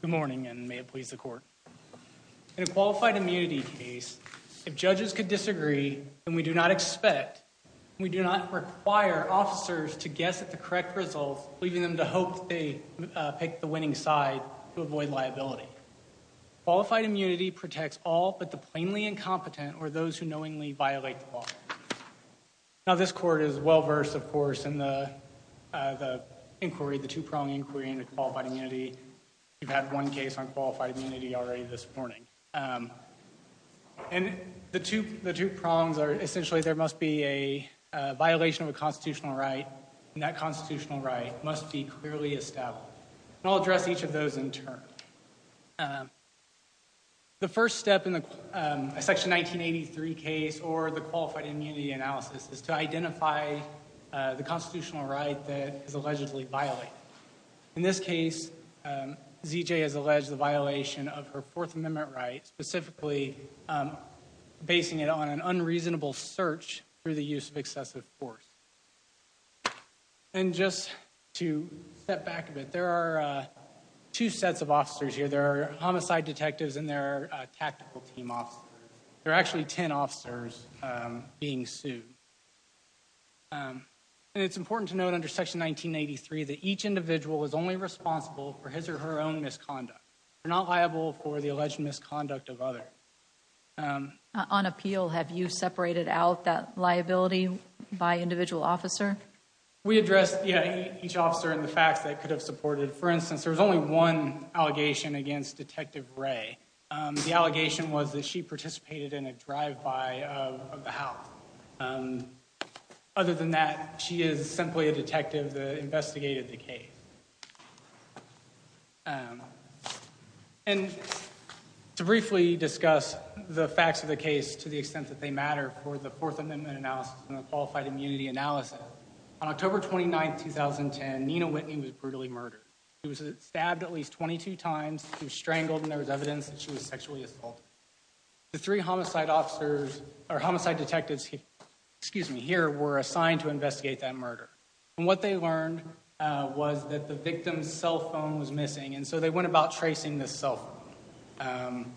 Good morning and may it please the court. In a qualified immunity case, if judges could disagree and we do not expect, we do not require officers to guess at the correct results leaving them to hope they pick the winning side to avoid liability. Qualified immunity protects all but the plainly incompetent or those who knowingly violate the law. Now this court is well versed of course in the inquiry, the two-prong inquiry into qualified immunity. We've had one case on qualified immunity already this morning and the two the two prongs are essentially there must be a violation of a constitutional right and that constitutional right must be clearly established. I'll address each of those in turn. The first step in the section 1983 case or the qualified immunity analysis is to identify the constitutional right that is allegedly violated. In this case ZJ has alleged the violation of her Fourth Amendment right specifically basing it on an unreasonable search through the use of excessive force. And just to step back a bit, there are two sets of officers here. There are homicide detectives and there are tactical team officers. There are actually 10 officers being sued. It's important to note under section 1983 that each individual is only responsible for his or her own misconduct. They're not liable for the alleged misconduct of others. On appeal have you separated out that liability by individual officer? We addressed each officer and the facts that could have supported. For instance there's only one allegation against Ray. The allegation was that she participated in a drive-by of the house. Other than that she is simply a detective that investigated the case. And to briefly discuss the facts of the case to the extent that they matter for the Fourth Amendment analysis and the qualified immunity analysis. On October 29th 2010 Nina Whitney was brutally murdered. She was stabbed at least 22 times. She was strangled and there was evidence that she was sexually assaulted. The three homicide detectives here were assigned to investigate that murder. And what they learned was that the victim's cell phone was missing and so they went about tracing this cell phone.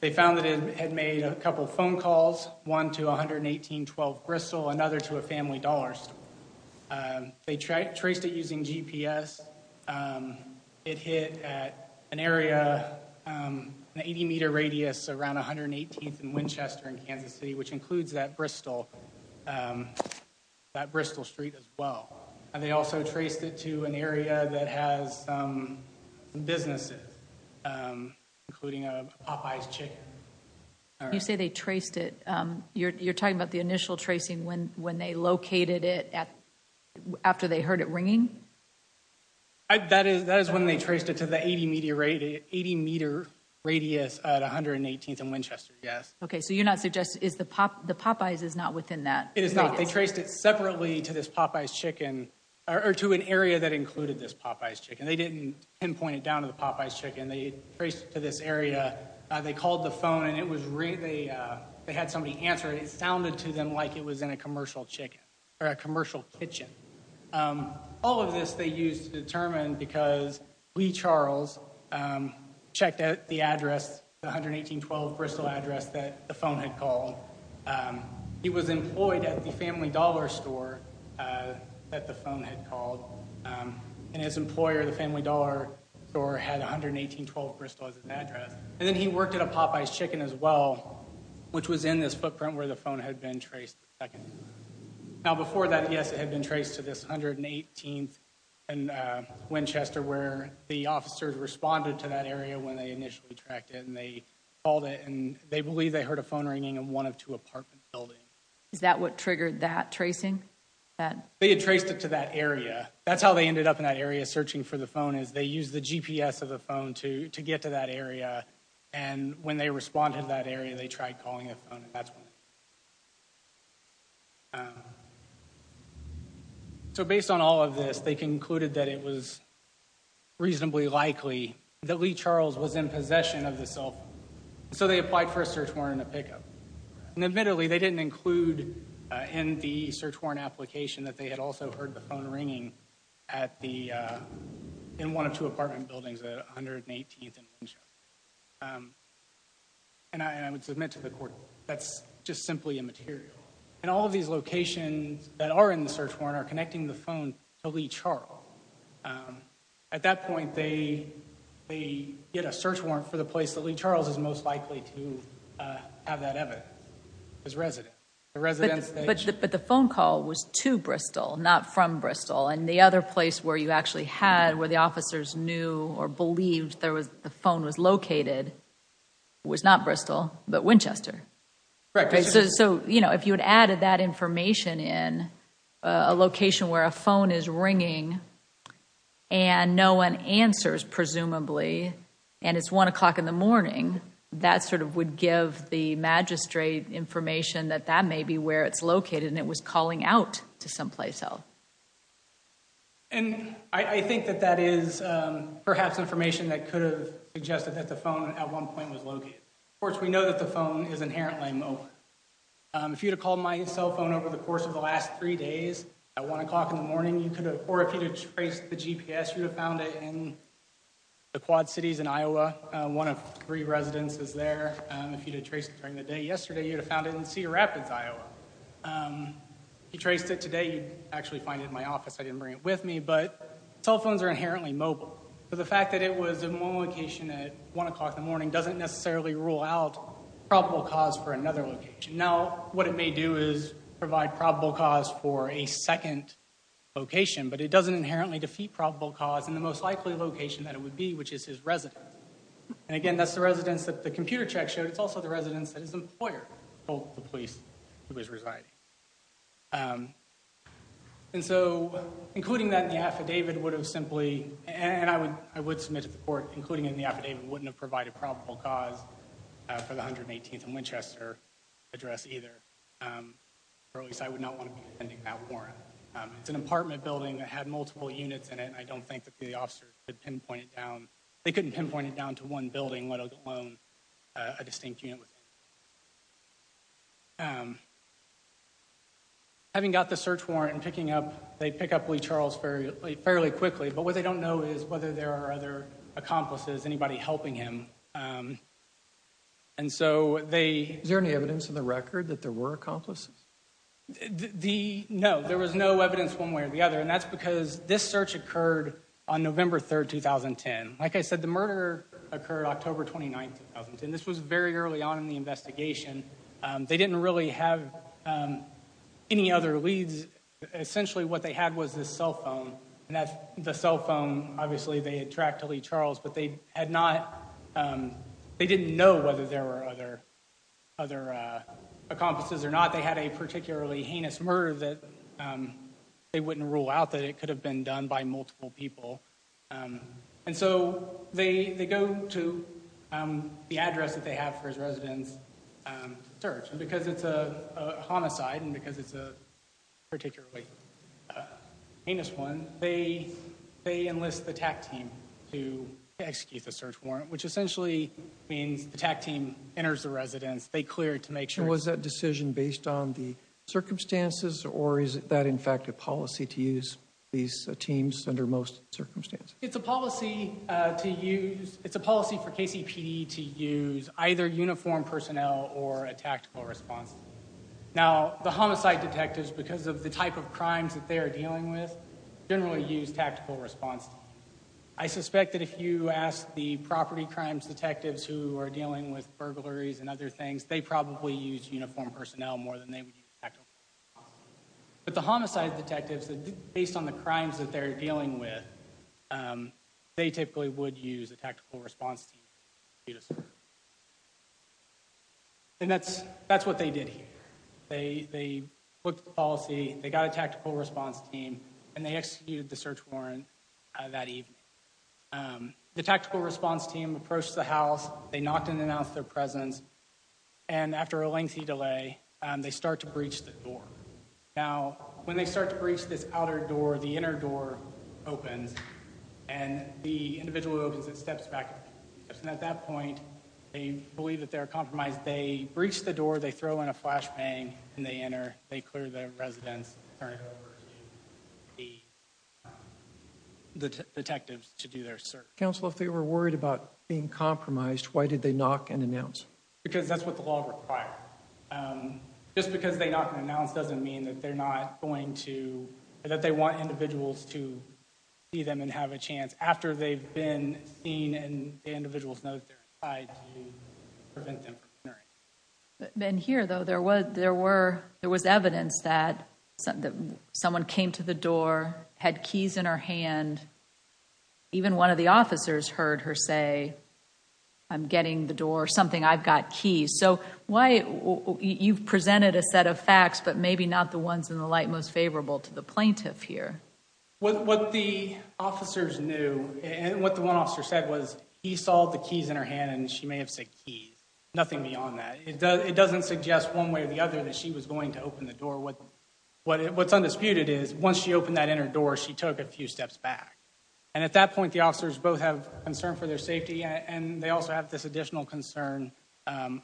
They found that it had made a couple phone calls. One to 11812 Bristol another to a family They traced it using GPS. It hit an area an 80 meter radius around 118th and Winchester in Kansas City which includes that Bristol that Bristol Street as well. And they also traced it to an area that has businesses including a Popeye's chicken. You say they traced it you're talking about the initial tracing when they located it at after they heard it ringing? That is that is when they traced it to the 80 meter radius at 118th and Winchester yes. Okay so you're not suggesting is the Popeye's is not within that? It is not. They traced it separately to this Popeye's chicken or to an area that included this Popeye's chicken. They didn't pinpoint it down to the Popeye's chicken. They traced to this area. They called the phone and it was really they had somebody answer it. It was in a commercial chicken or a commercial kitchen. All of this they used to determine because Lee Charles checked out the address the 11812 Bristol address that the phone had called. He was employed at the Family Dollar Store that the phone had called. And his employer the Family Dollar Store had 11812 Bristol as his address. And then he worked at a Popeye's chicken as well which was in this footprint where the phone had been traced. Now before that yes it had been traced to this 118th and Winchester where the officers responded to that area when they initially tracked it and they called it and they believe they heard a phone ringing in one of two apartment buildings. Is that what triggered that tracing? They had traced it to that area. That's how they ended up in that area searching for the phone is they use the GPS of the phone to to get to that area. And when they responded to that area they tried calling a phone and that's when it went off. So based on all of this they concluded that it was reasonably likely that Lee Charles was in possession of the cell phone. So they applied for a search warrant and a pickup. And admittedly they didn't include in the search warrant application that they had also heard the phone ringing at the in one of two apartment buildings at 118th and Winchester. And I would submit to the court that's just simply immaterial. And all of these locations that are in the search warrant are connecting the phone to Lee Charles. At that point they get a search warrant for the place that Lee Charles is most likely to have that evidence. His residence. But the phone call was to Bristol not from Bristol and the other place where you actually had where the phone was located was not Bristol but Winchester. So you know if you had added that information in a location where a phone is ringing and no one answers presumably and it's one o'clock in the morning that sort of would give the magistrate information that that may be where it's located and it was calling out to someplace else. And I think that that is perhaps information that could have suggested that the phone at one point was located. Of course we know that the phone is inherently a mobile. If you'd have called my cell phone over the course of the last three days at one o'clock in the morning you could have or if you trace the GPS you have found it in the Quad Cities in Iowa. One of three residences there. If you did trace it during the day yesterday you'd have found it in Cedar Rapids, Iowa. If you traced it today you'd actually find it in my office. I didn't bring it with me but cell phones are inherently mobile. So the fact that it was in one location at one o'clock in the morning doesn't necessarily rule out probable cause for another location. Now what it may do is provide probable cause for a second location but it doesn't inherently defeat probable cause in the most likely location that it would be which is his residence. And again that's the residence that the computer check showed. It's also the residence that his was residing. And so including that in the affidavit would have simply and I would I would submit to the court including in the affidavit wouldn't have provided probable cause for the 118th and Winchester address either. Or at least I would not want to be defending that warrant. It's an apartment building that had multiple units in it and I don't think that the officers could pinpoint it down. They couldn't pinpoint it down to one building let alone a distinct unit. Having got the search warrant and picking up they pick up Lee Charles fairly fairly quickly but what they don't know is whether there are other accomplices anybody helping him. And so they... Is there any evidence in the record that there were accomplices? The no there was no evidence one way or the other and that's because this search occurred on November 3rd 2010. Like I said the 29th and this was very early on in the investigation. They didn't really have any other leads. Essentially what they had was this cell phone and that's the cell phone obviously they had tracked to Lee Charles but they had not they didn't know whether there were other other accomplices or not. They had a particularly heinous murder that they wouldn't rule out that it could have been done by multiple people. And so they they go to the address that they have for his residence search and because it's a homicide and because it's a particularly heinous one they they enlist the TAC team to execute the search warrant which essentially means the TAC team enters the residence they cleared to make sure... Was that decision based on the circumstances or is it that fact a policy to use these teams under most circumstances? It's a policy to use it's a policy for KCPD to use either uniformed personnel or a tactical response. Now the homicide detectives because of the type of crimes that they are dealing with generally use tactical response. I suspect that if you ask the property crimes detectives who are dealing with burglaries and other things they probably use uniformed personnel more than they would use tactical response. But the homicide detectives that based on the crimes that they're dealing with they typically would use a tactical response team. And that's that's what they did here. They put the policy, they got a tactical response team and they executed the search warrant that evening. The tactical response team approached the residence and after a lengthy delay they start to breach the door. Now when they start to breach this outer door the inner door opens and the individual opens it steps back. At that point they believe that they're compromised. They breach the door, they throw in a flashbang and they enter they clear the residence, turn it over to the detectives to do their search. Counselor if they were worried about being compromised why did they knock and announce? Because that's what the law requires. Just because they knock and announce doesn't mean that they're not going to, that they want individuals to see them and have a chance after they've been seen and the individuals know that they're inside to prevent them from entering. Here though there was evidence that someone came to the I'm getting the door something I've got keys so why you've presented a set of facts but maybe not the ones in the light most favorable to the plaintiff here. What the officers knew and what the one officer said was he saw the keys in her hand and she may have said keys. Nothing beyond that. It doesn't suggest one way or the other that she was going to open the door. What's undisputed is once she opened that inner door she took a few steps back and at that point the officers both have concern for their safety and they also have this additional concern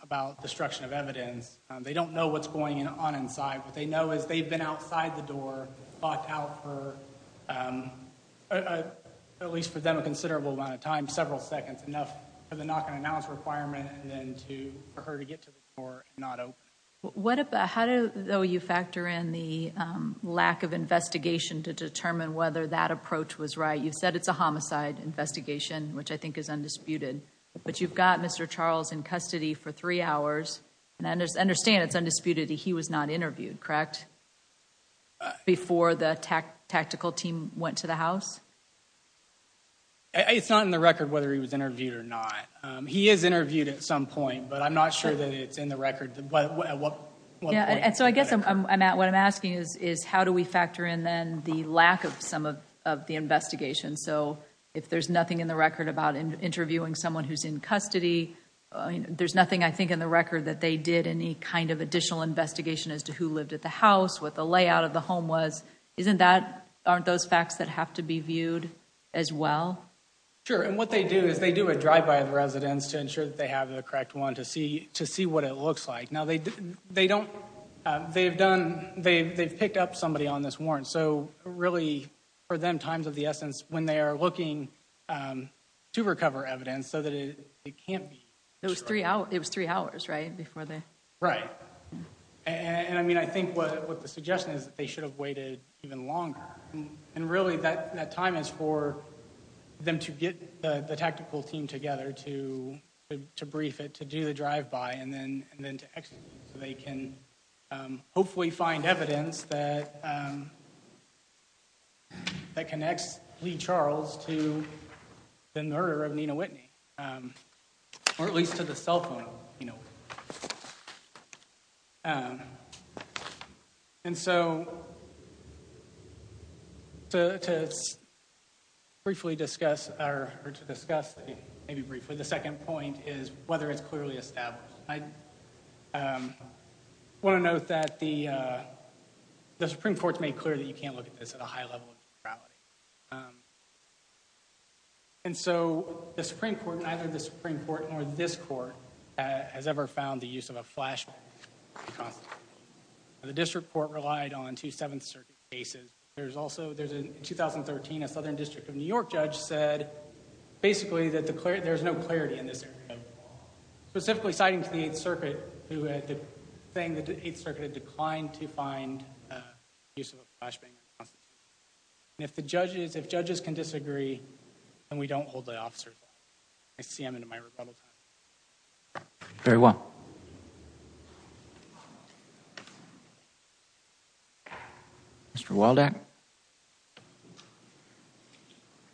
about destruction of evidence. They don't know what's going on inside. What they know is they've been outside the door locked out for at least for them a considerable amount of time, several seconds enough for the knock and announce requirement and then for her to get to the door and not open it. How do you factor in the lack of investigation to determine whether that approach was right? You said it's a homicide investigation which I think is undisputed but you've got Mr. Charles in custody for three hours and I understand it's undisputed he was not interviewed, correct? Before the tactical team went to the house? It's not in the record whether he was interviewed or not. He is interviewed at some point but I'm not sure that it's in the record but what yeah and so I guess I'm at what I'm asking is is how do we factor in then the lack of some of the investigation so if there's nothing in the record about interviewing someone who's in custody there's nothing I think in the record that they did any kind of additional investigation as to who lived at the house what the layout of the home was isn't that aren't those facts that have to be viewed as well? Sure and what they do is they do a drive-by of residents to ensure that they have the correct one to see to see what it looks like now they they don't they've done they've picked up somebody on this warrant so really for them times of the essence when they are looking to recover evidence so that it can't be those three out it was three hours right before they right and I mean I think what the suggestion is that they should have waited even longer and really that that time is for them to get the tactical team together to to brief it to do the drive-by and then and then to execute so can hopefully find evidence that that connects Lee Charles to the murder of Nina Whitney or at least to the cell phone you know and so to briefly discuss our or to discuss maybe briefly the second point is whether it's clearly established I want to note that the the Supreme Court's made clear that you can't look at this at a high level of morality and so the Supreme Court neither the Supreme Court or this court has ever found the use of a flashback the district court relied on to seventh-circuit cases there's also there's a 2013 a Southern District of New York judge said basically that the clear there's no clarity in this specifically citing to the 8th Circuit who had the thing that the 8th Circuit had declined to find if the judges if judges can disagree and we don't hold the officers I see him in my Republic very well mr. Walden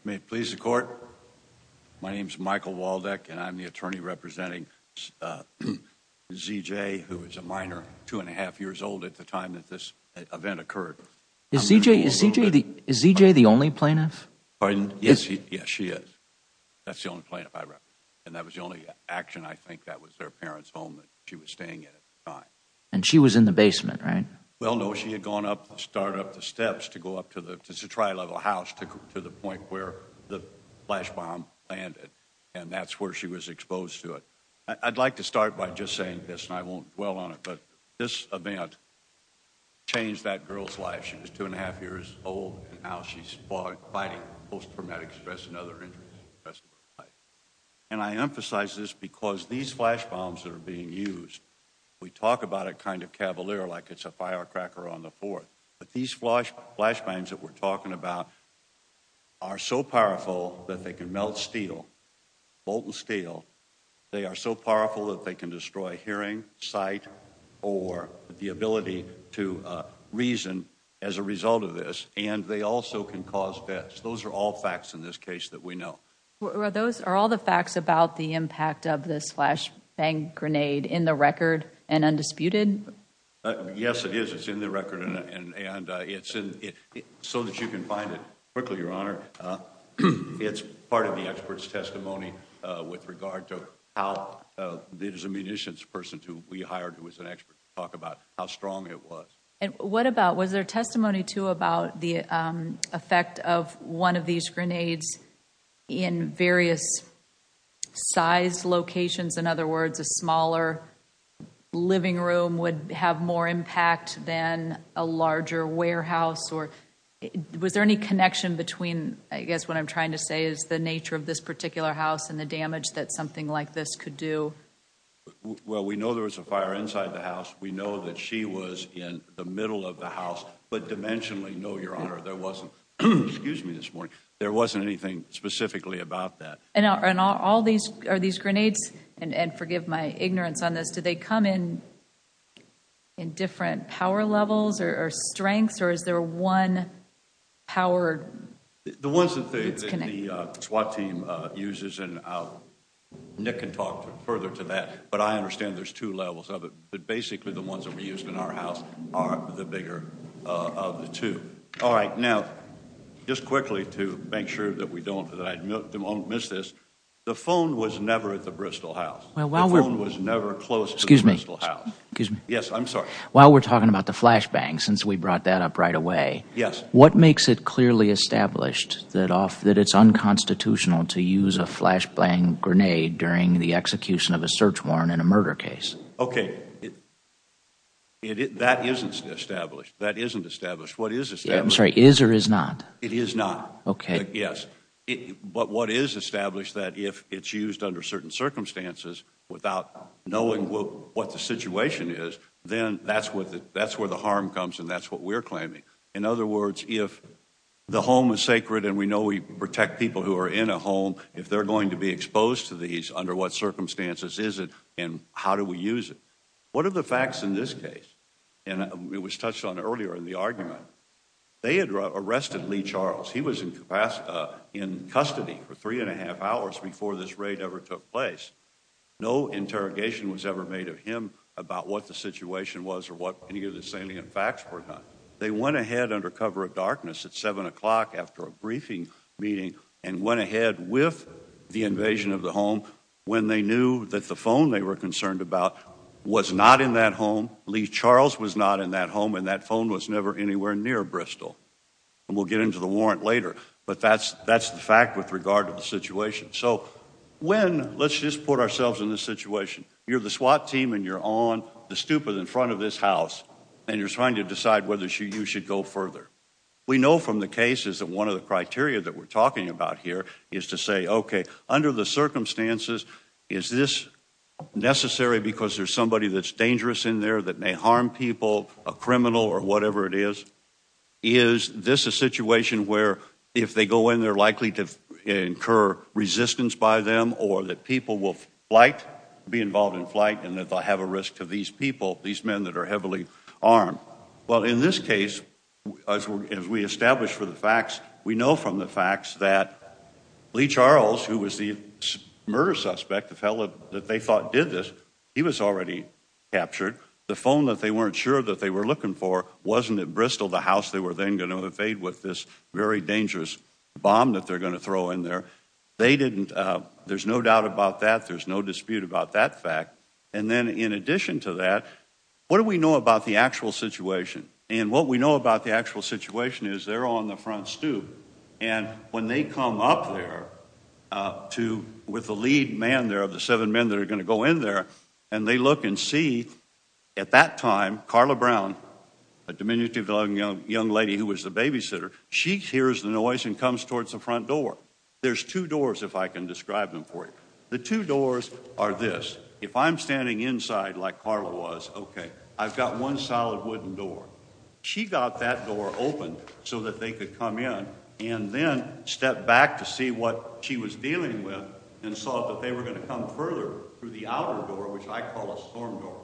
may it please the court my name is Michael Waldeck and I'm the attorney representing CJ who is a minor two and a half years old at the time that this event occurred CJ is CJ the is CJ the only plaintiff yes yes she is that's the only plaintiff I rep and that was the only action I think that was their parents home that she was staying in it and she was in the basement right well no she had gone up to start up the steps to go up to the tri-level house to the point where the flash bomb landed and that's where she was exposed to it I'd like to start by just saying this and I won't dwell on it but this event changed that girl's life she was two and a half years old and now she's fighting post-traumatic stress and other injuries and I emphasize this because these flash bombs that are being used we talk about it kind of Cavalier like it's a fire cracker on the fourth but these flash flash bangs that we're talking about are so powerful that they can melt steel molten steel they are so powerful that they can destroy hearing sight or the ability to reason as a result of this and they also can cause deaths those are all facts in this case that we know those are all the facts about the impact of this flash bang grenade in the record and undisputed yes it is it's in the record and it's in it so that you can find it quickly your honor it's part of the experts testimony with regard to how there's a munitions person to we hired who was an expert talk about how strong it was and what about was there testimony to about the effect of one of these grenades in various size locations in other words a smaller living room would have more impact than a larger warehouse or was there any connection between I guess what I'm trying to say is the nature of this particular house and the damage that something like this could do well we know there was a fire inside the house we know that she was in the middle of there wasn't anything specifically about that and all these are these grenades and forgive my ignorance on this do they come in in different power levels or strengths or is there one power the ones that the SWAT team uses and out Nick can talk further to that but I understand there's two levels of it but basically the ones that we used in our house are the bigger of the two all right now just quickly to make sure that we don't miss this the phone was never at the Bristol house well while we're was never close excuse me excuse me yes I'm sorry while we're talking about the flashbang since we brought that up right away yes what makes it clearly established that off that it's unconstitutional to use a flashbang grenade during the execution of a search warrant in a murder case okay it that isn't established that isn't established what is this I'm sorry is or is not it is not okay yes but what is established that if it's used under certain circumstances without knowing what the situation is then that's what that's where the harm comes and that's what we're claiming in other words if the home is sacred and we know we protect people who are in a home if they're going to be exposed to these under what circumstances is it and how do we use it what are the facts in this case and it was touched on earlier in the argument they had arrested Lee Charles he was in capacity in custody for three and a half hours before this raid ever took place no interrogation was ever made of him about what the situation was or what any of the salient facts were done they went ahead under cover of darkness at seven o'clock after a briefing meeting and went ahead with the invasion of the home when they knew that the phone they were concerned about was not in that home Lee Charles was not in that home and that phone was never anywhere near Bristol and we'll get into the warrant later but that's that's the fact with regard to the situation so when let's just put ourselves in this situation you're the SWAT team and you're on the stupid in front of this house and you're trying to decide whether she you should go further we know from the cases that one of the criteria that we're talking about here is to say okay under the circumstances is this necessary because there's somebody that's dangerous in there that may harm people a criminal or whatever it is is this a situation where if they go in they're likely to incur resistance by them or that people will like be involved in flight and if I have a risk to these people these men that are heavily armed well in this case as we establish for the facts we know from the facts that Lee Charles who was the murder suspect the fella that they thought did this he was already captured the phone that they weren't sure that they were looking for wasn't at Bristol the house they were then going to evade with this very dangerous bomb that they're going to throw in there they didn't there's no doubt about that there's no dispute about that fact and then in addition to that what do we know about the actual situation and what we know about the actual situation is they're on the front stoop and when they come up there to with the lead man there of the seven men that are going to go in there and they look and see at that time Carla Brown a diminutive young young lady who was the babysitter she hears the noise and comes towards the front door there's two doors if I can describe them for you the two doors are this if I'm standing inside like Carla was okay I've got one solid wooden door she got that door open so that they could come in and then step back to see what she was dealing with and saw that they were going to come further through the outer door which I call a storm door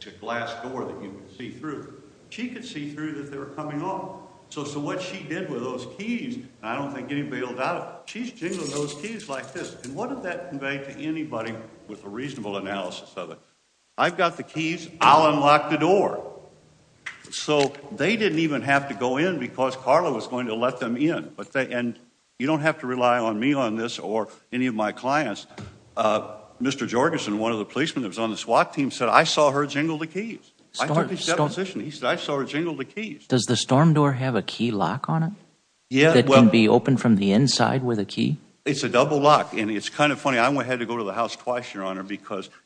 to glass door that you can see through she could see through that they were coming on so so what she did with those keys I don't think any bailed out she's jingling those keys like this and what did that convey to anybody with a reasonable analysis of it I've got the keys I'll unlock the door so they didn't even have to go in because Carla was going to let them in but they and you don't have to rely on me on this or any of my clients mr. Jorgensen one of the policemen that was on the SWAT team said I saw her jingle the keys position he said I saw her jingle the keys does the storm door have a key lock on it yeah well be open from the inside with a key it's a double lock and it's kind of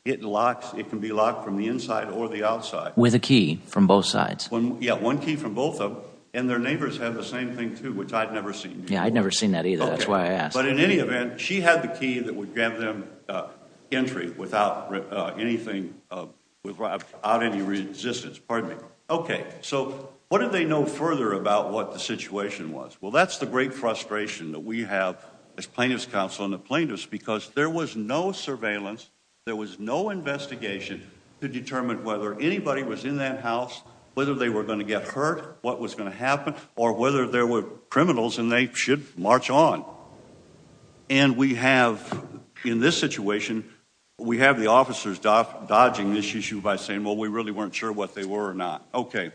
it locks it can be locked from the inside or the outside with a key from both sides when yeah one key from both of and their neighbors have the same thing too which I'd never seen yeah I'd never seen that either that's why I asked but in any event she had the key that would grab them entry without anything without any resistance pardon me okay so what did they know further about what the situation was well that's the great frustration that we have as plaintiffs counsel in the plaintiffs because there was no surveillance there was no investigation to determine whether anybody was in that house whether they were going to get hurt what was going to happen or whether there were criminals and they should march on and we have in this situation we have the officers dodging this issue by saying well we really weren't sure what they were or not okay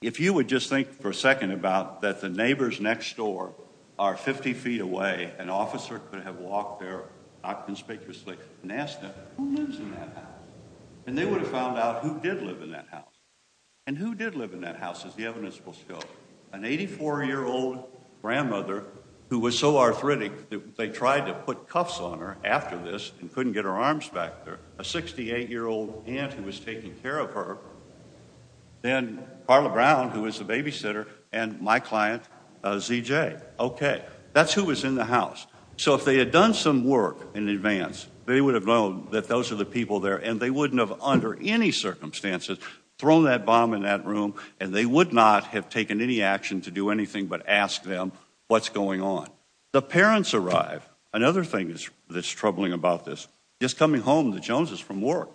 if you would just think for a second about that the neighbors next door are 50 feet away an officer could have walked there inconspicuously and asked them and they would have found out who did live in that house and who did live in that house as the evidence will show an 84 year old grandmother who was so arthritic that they tried to put cuffs on her after this and couldn't get her arms back there a 68 year old aunt who was taking care of her then Carla Brown who was a babysitter and my client ZJ okay that's who was in the house so if they had done some work in advance they would have known that those are the people there and they wouldn't have under any circumstances thrown that bomb in that room and they would not have taken any action to do anything but ask them what's going on the parents arrive another thing is that's troubling about this just coming home the Jones's from work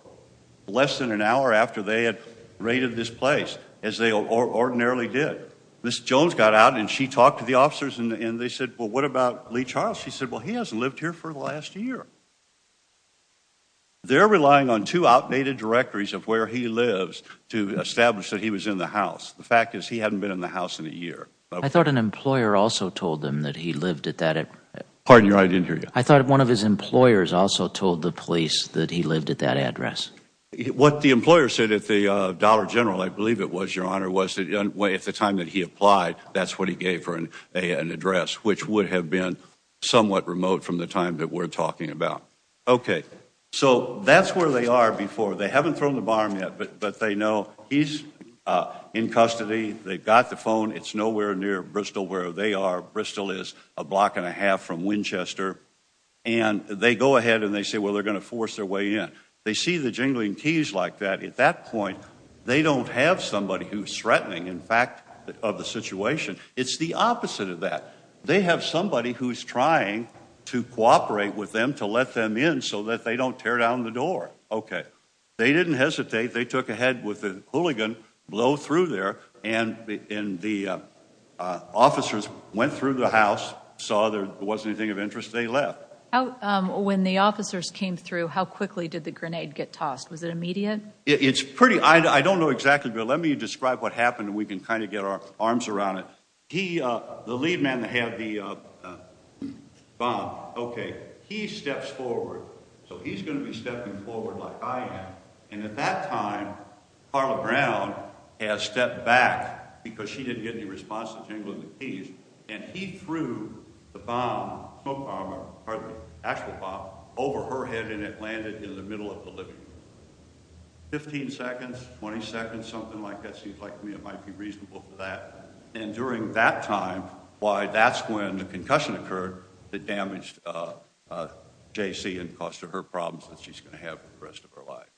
less than an hour after they had raided this place as they ordinarily did this Jones got out and she talked to the officers and they said well what about Lee Charles she said well he hasn't lived here for the last year they're relying on two outdated directories of where he lives to establish that he was in the house the fact is he hadn't been in the house in a year I thought an employer also told them that he lived at that it pardon your I didn't hear you I thought one of his employers also told the police that he lived at that address what the employer said at the Dollar General I believe it was your honor was that young way at the time that he applied that's what he gave her and they had an address which would have been somewhat remote from the time that we're talking about okay so that's where they are before they haven't thrown the bomb yet but but they know he's in custody they've got the phone it's nowhere near Bristol where they are Bristol is a block and a half from Winchester and they go ahead and they say well they're gonna force their way in they see the jingling keys like that at that point they don't have somebody who's threatening in fact of the situation it's the opposite of that they have somebody who's trying to cooperate with them to let them in so that they don't tear down the door okay they didn't hesitate they took a head with a hooligan blow through there and in the officers went through the house saw there wasn't anything of interest they left oh when the officers came through how quickly did the grenade get tossed was it immediate it's pretty I don't know exactly but let me describe what happened and we can kind of get our arms around it he the lead man that had the bomb okay he steps forward so he's going to be stepping forward like I am and at that time Carla Brown has stepped back because she didn't get any response to jingling the keys and he threw the bomb over her head and it landed in the middle of the living room 15 seconds 20 seconds something like that seems like me it might be reasonable for that and during that time why that's when the concussion occurred that damaged JC and cost of her problems that she's going to have the rest of her life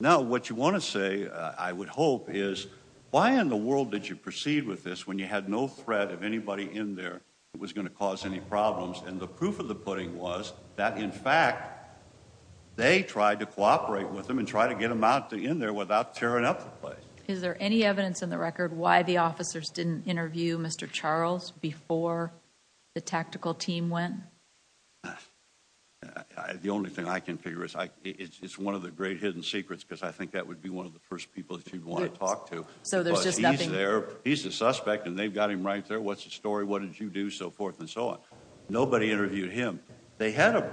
now what you want to say I would hope is why in the world did you proceed with this when you had no threat of anybody in there it was going to cause any problems and the proof of the pudding was that in fact they tried to in there without tearing up the place is there any evidence in the record why the officers didn't interview mr. Charles before the tactical team went the only thing I can figure is I it's one of the great hidden secrets because I think that would be one of the first people if you'd want to talk to so there's just nothing there he's a suspect and they've got him right there what's the story what did you do so forth and so on nobody interviewed him they had a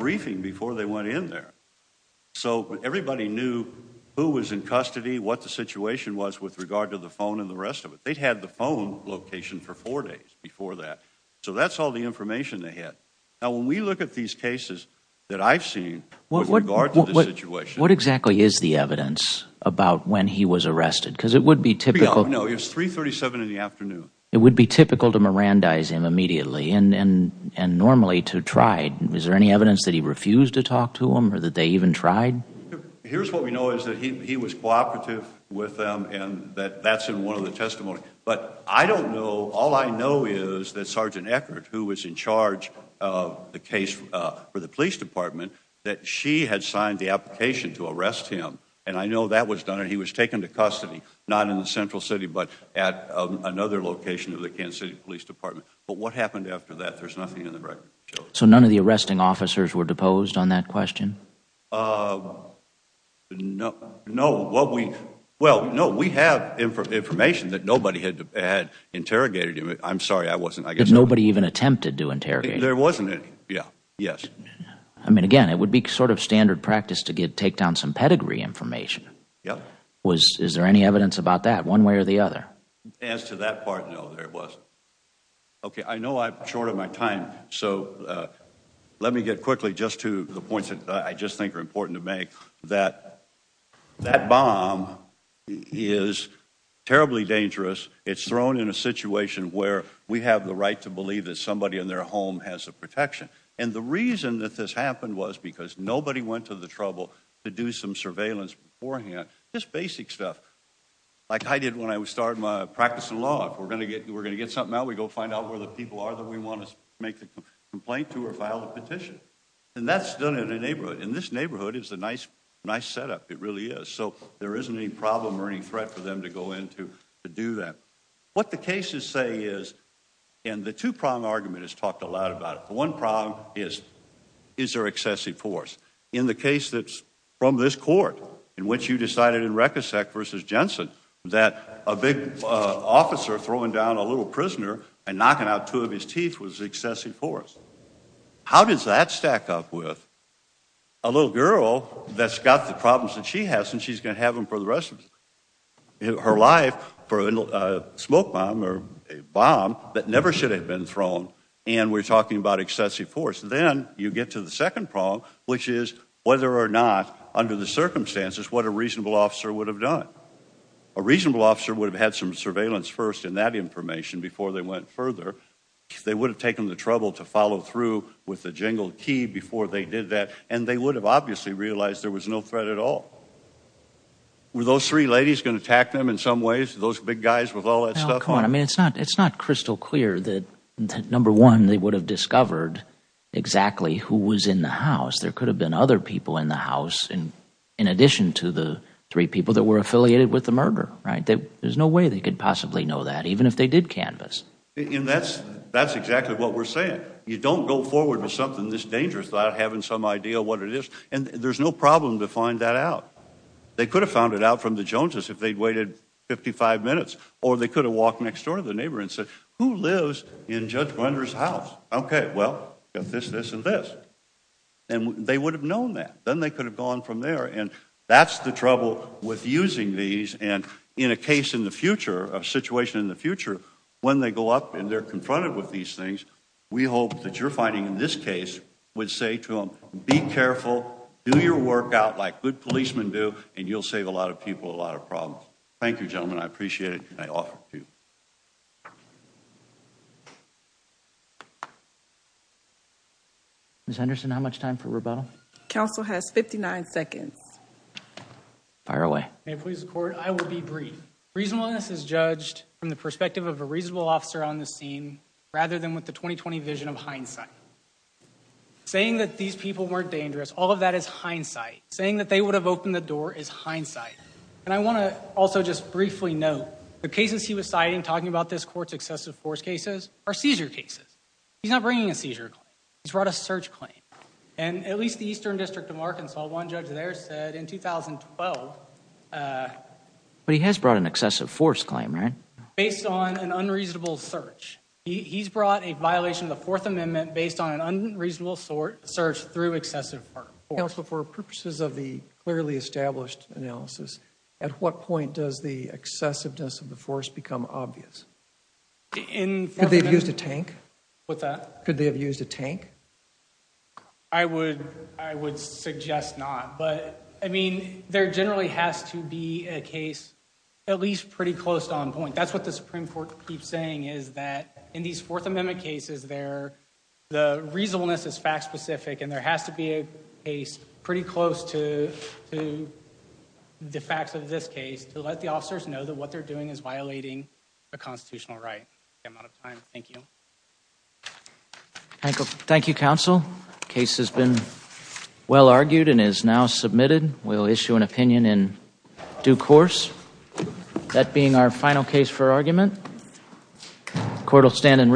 was in custody what the situation was with regard to the phone and the rest of it they'd had the phone location for four days before that so that's all the information they had now when we look at these cases that I've seen what what guard what what exactly is the evidence about when he was arrested because it would be typical no it's 337 in the afternoon it would be typical to Miranda is him immediately and and and normally to tried is there any evidence that he refused to talk to him or that they even tried here's what we know is that he was cooperative with them and that that's in one of the testimony but I don't know all I know is that sergeant Eckert who was in charge of the case for the police department that she had signed the application to arrest him and I know that was done and he was taken to custody not in the central city but at another location of the Kansas City Police Department but what happened after that there's nothing in the right so none of the arresting officers were posed on that question no no what we well no we have information that nobody had had interrogated him I'm sorry I wasn't I guess nobody even attempted to interrogate there wasn't it yeah yes I mean again it would be sort of standard practice to get take down some pedigree information yeah was is there any evidence about that one way or the other as to that part no there was okay I know I'm short of my time so let me get quickly just to the points that I just think are important to make that that bomb is terribly dangerous it's thrown in a situation where we have the right to believe that somebody in their home has a protection and the reason that this happened was because nobody went to the trouble to do some surveillance beforehand just basic stuff like I did when I was starting my practice in law we're gonna get we're gonna get something out we go find out where the people are that we want to make the complaint to or file a petition and that's done in a neighborhood in this neighborhood it's a nice nice setup it really is so there isn't any problem or any threat for them to go in to do that what the cases say is and the two-prong argument has talked a lot about it the one problem is is there excessive force in the case that's from this court in which you decided in Rekhosek versus prisoner and knocking out two of his teeth was excessive force how does that stack up with a little girl that's got the problems that she has and she's gonna have them for the rest of her life for a smoke bomb or a bomb that never should have been thrown and we're talking about excessive force then you get to the second prong which is whether or not under the circumstances what a reasonable officer would have done a reasonable officer would have had some information before they went further they would have taken the trouble to follow through with the jingled key before they did that and they would have obviously realized there was no threat at all were those three ladies gonna attack them in some ways those big guys with all that stuff on I mean it's not it's not crystal clear that number one they would have discovered exactly who was in the house there could have been other people in the house and in addition to the three people that were affiliated with the murder right that there's no way they could possibly know that even if they did canvass and that's that's exactly what we're saying you don't go forward with something this dangerous without having some idea what it is and there's no problem to find that out they could have found it out from the Joneses if they'd waited 55 minutes or they could have walked next door to the neighbor and said who lives in Judge Blender's house okay well if this this and this and they would have known that then they could have gone from there and that's the trouble with using these and in a case in the future a situation in the future when they go up and they're confronted with these things we hope that you're finding in this case would say to them be careful do your work out like good policemen do and you'll save a lot of people a lot of problems thank you gentlemen I appreciate it I offer you miss Henderson how much time for rebuttal council has 59 seconds fire I will be brief reasonableness is judged from the perspective of a reasonable officer on the scene rather than with the 2020 vision of hindsight saying that these people weren't dangerous all of that is hindsight saying that they would have opened the door is hindsight and I want to also just briefly know the cases he was citing talking about this courts excessive force cases are seizure cases he's not bringing a seizure he's brought a search claim and at least the Eastern District of Arkansas one judge there said in 2012 but he has brought an excessive force claim right based on an unreasonable search he's brought a violation of the Fourth Amendment based on an unreasonable sort search through excessive or else before purposes of the clearly established analysis at what point does the excessiveness of the force become obvious in they've used a tank with that could they have used a I mean there generally has to be a case at least pretty close on point that's what the Supreme Court keeps saying is that in these Fourth Amendment cases there the reasonableness is fact-specific and there has to be a case pretty close to the facts of this case to let the officers know that what they're doing is violating a constitutional right thank you thank you counsel case has been well argued and is now submitted we'll issue an opinion in due course that being our final case for argument court will stand and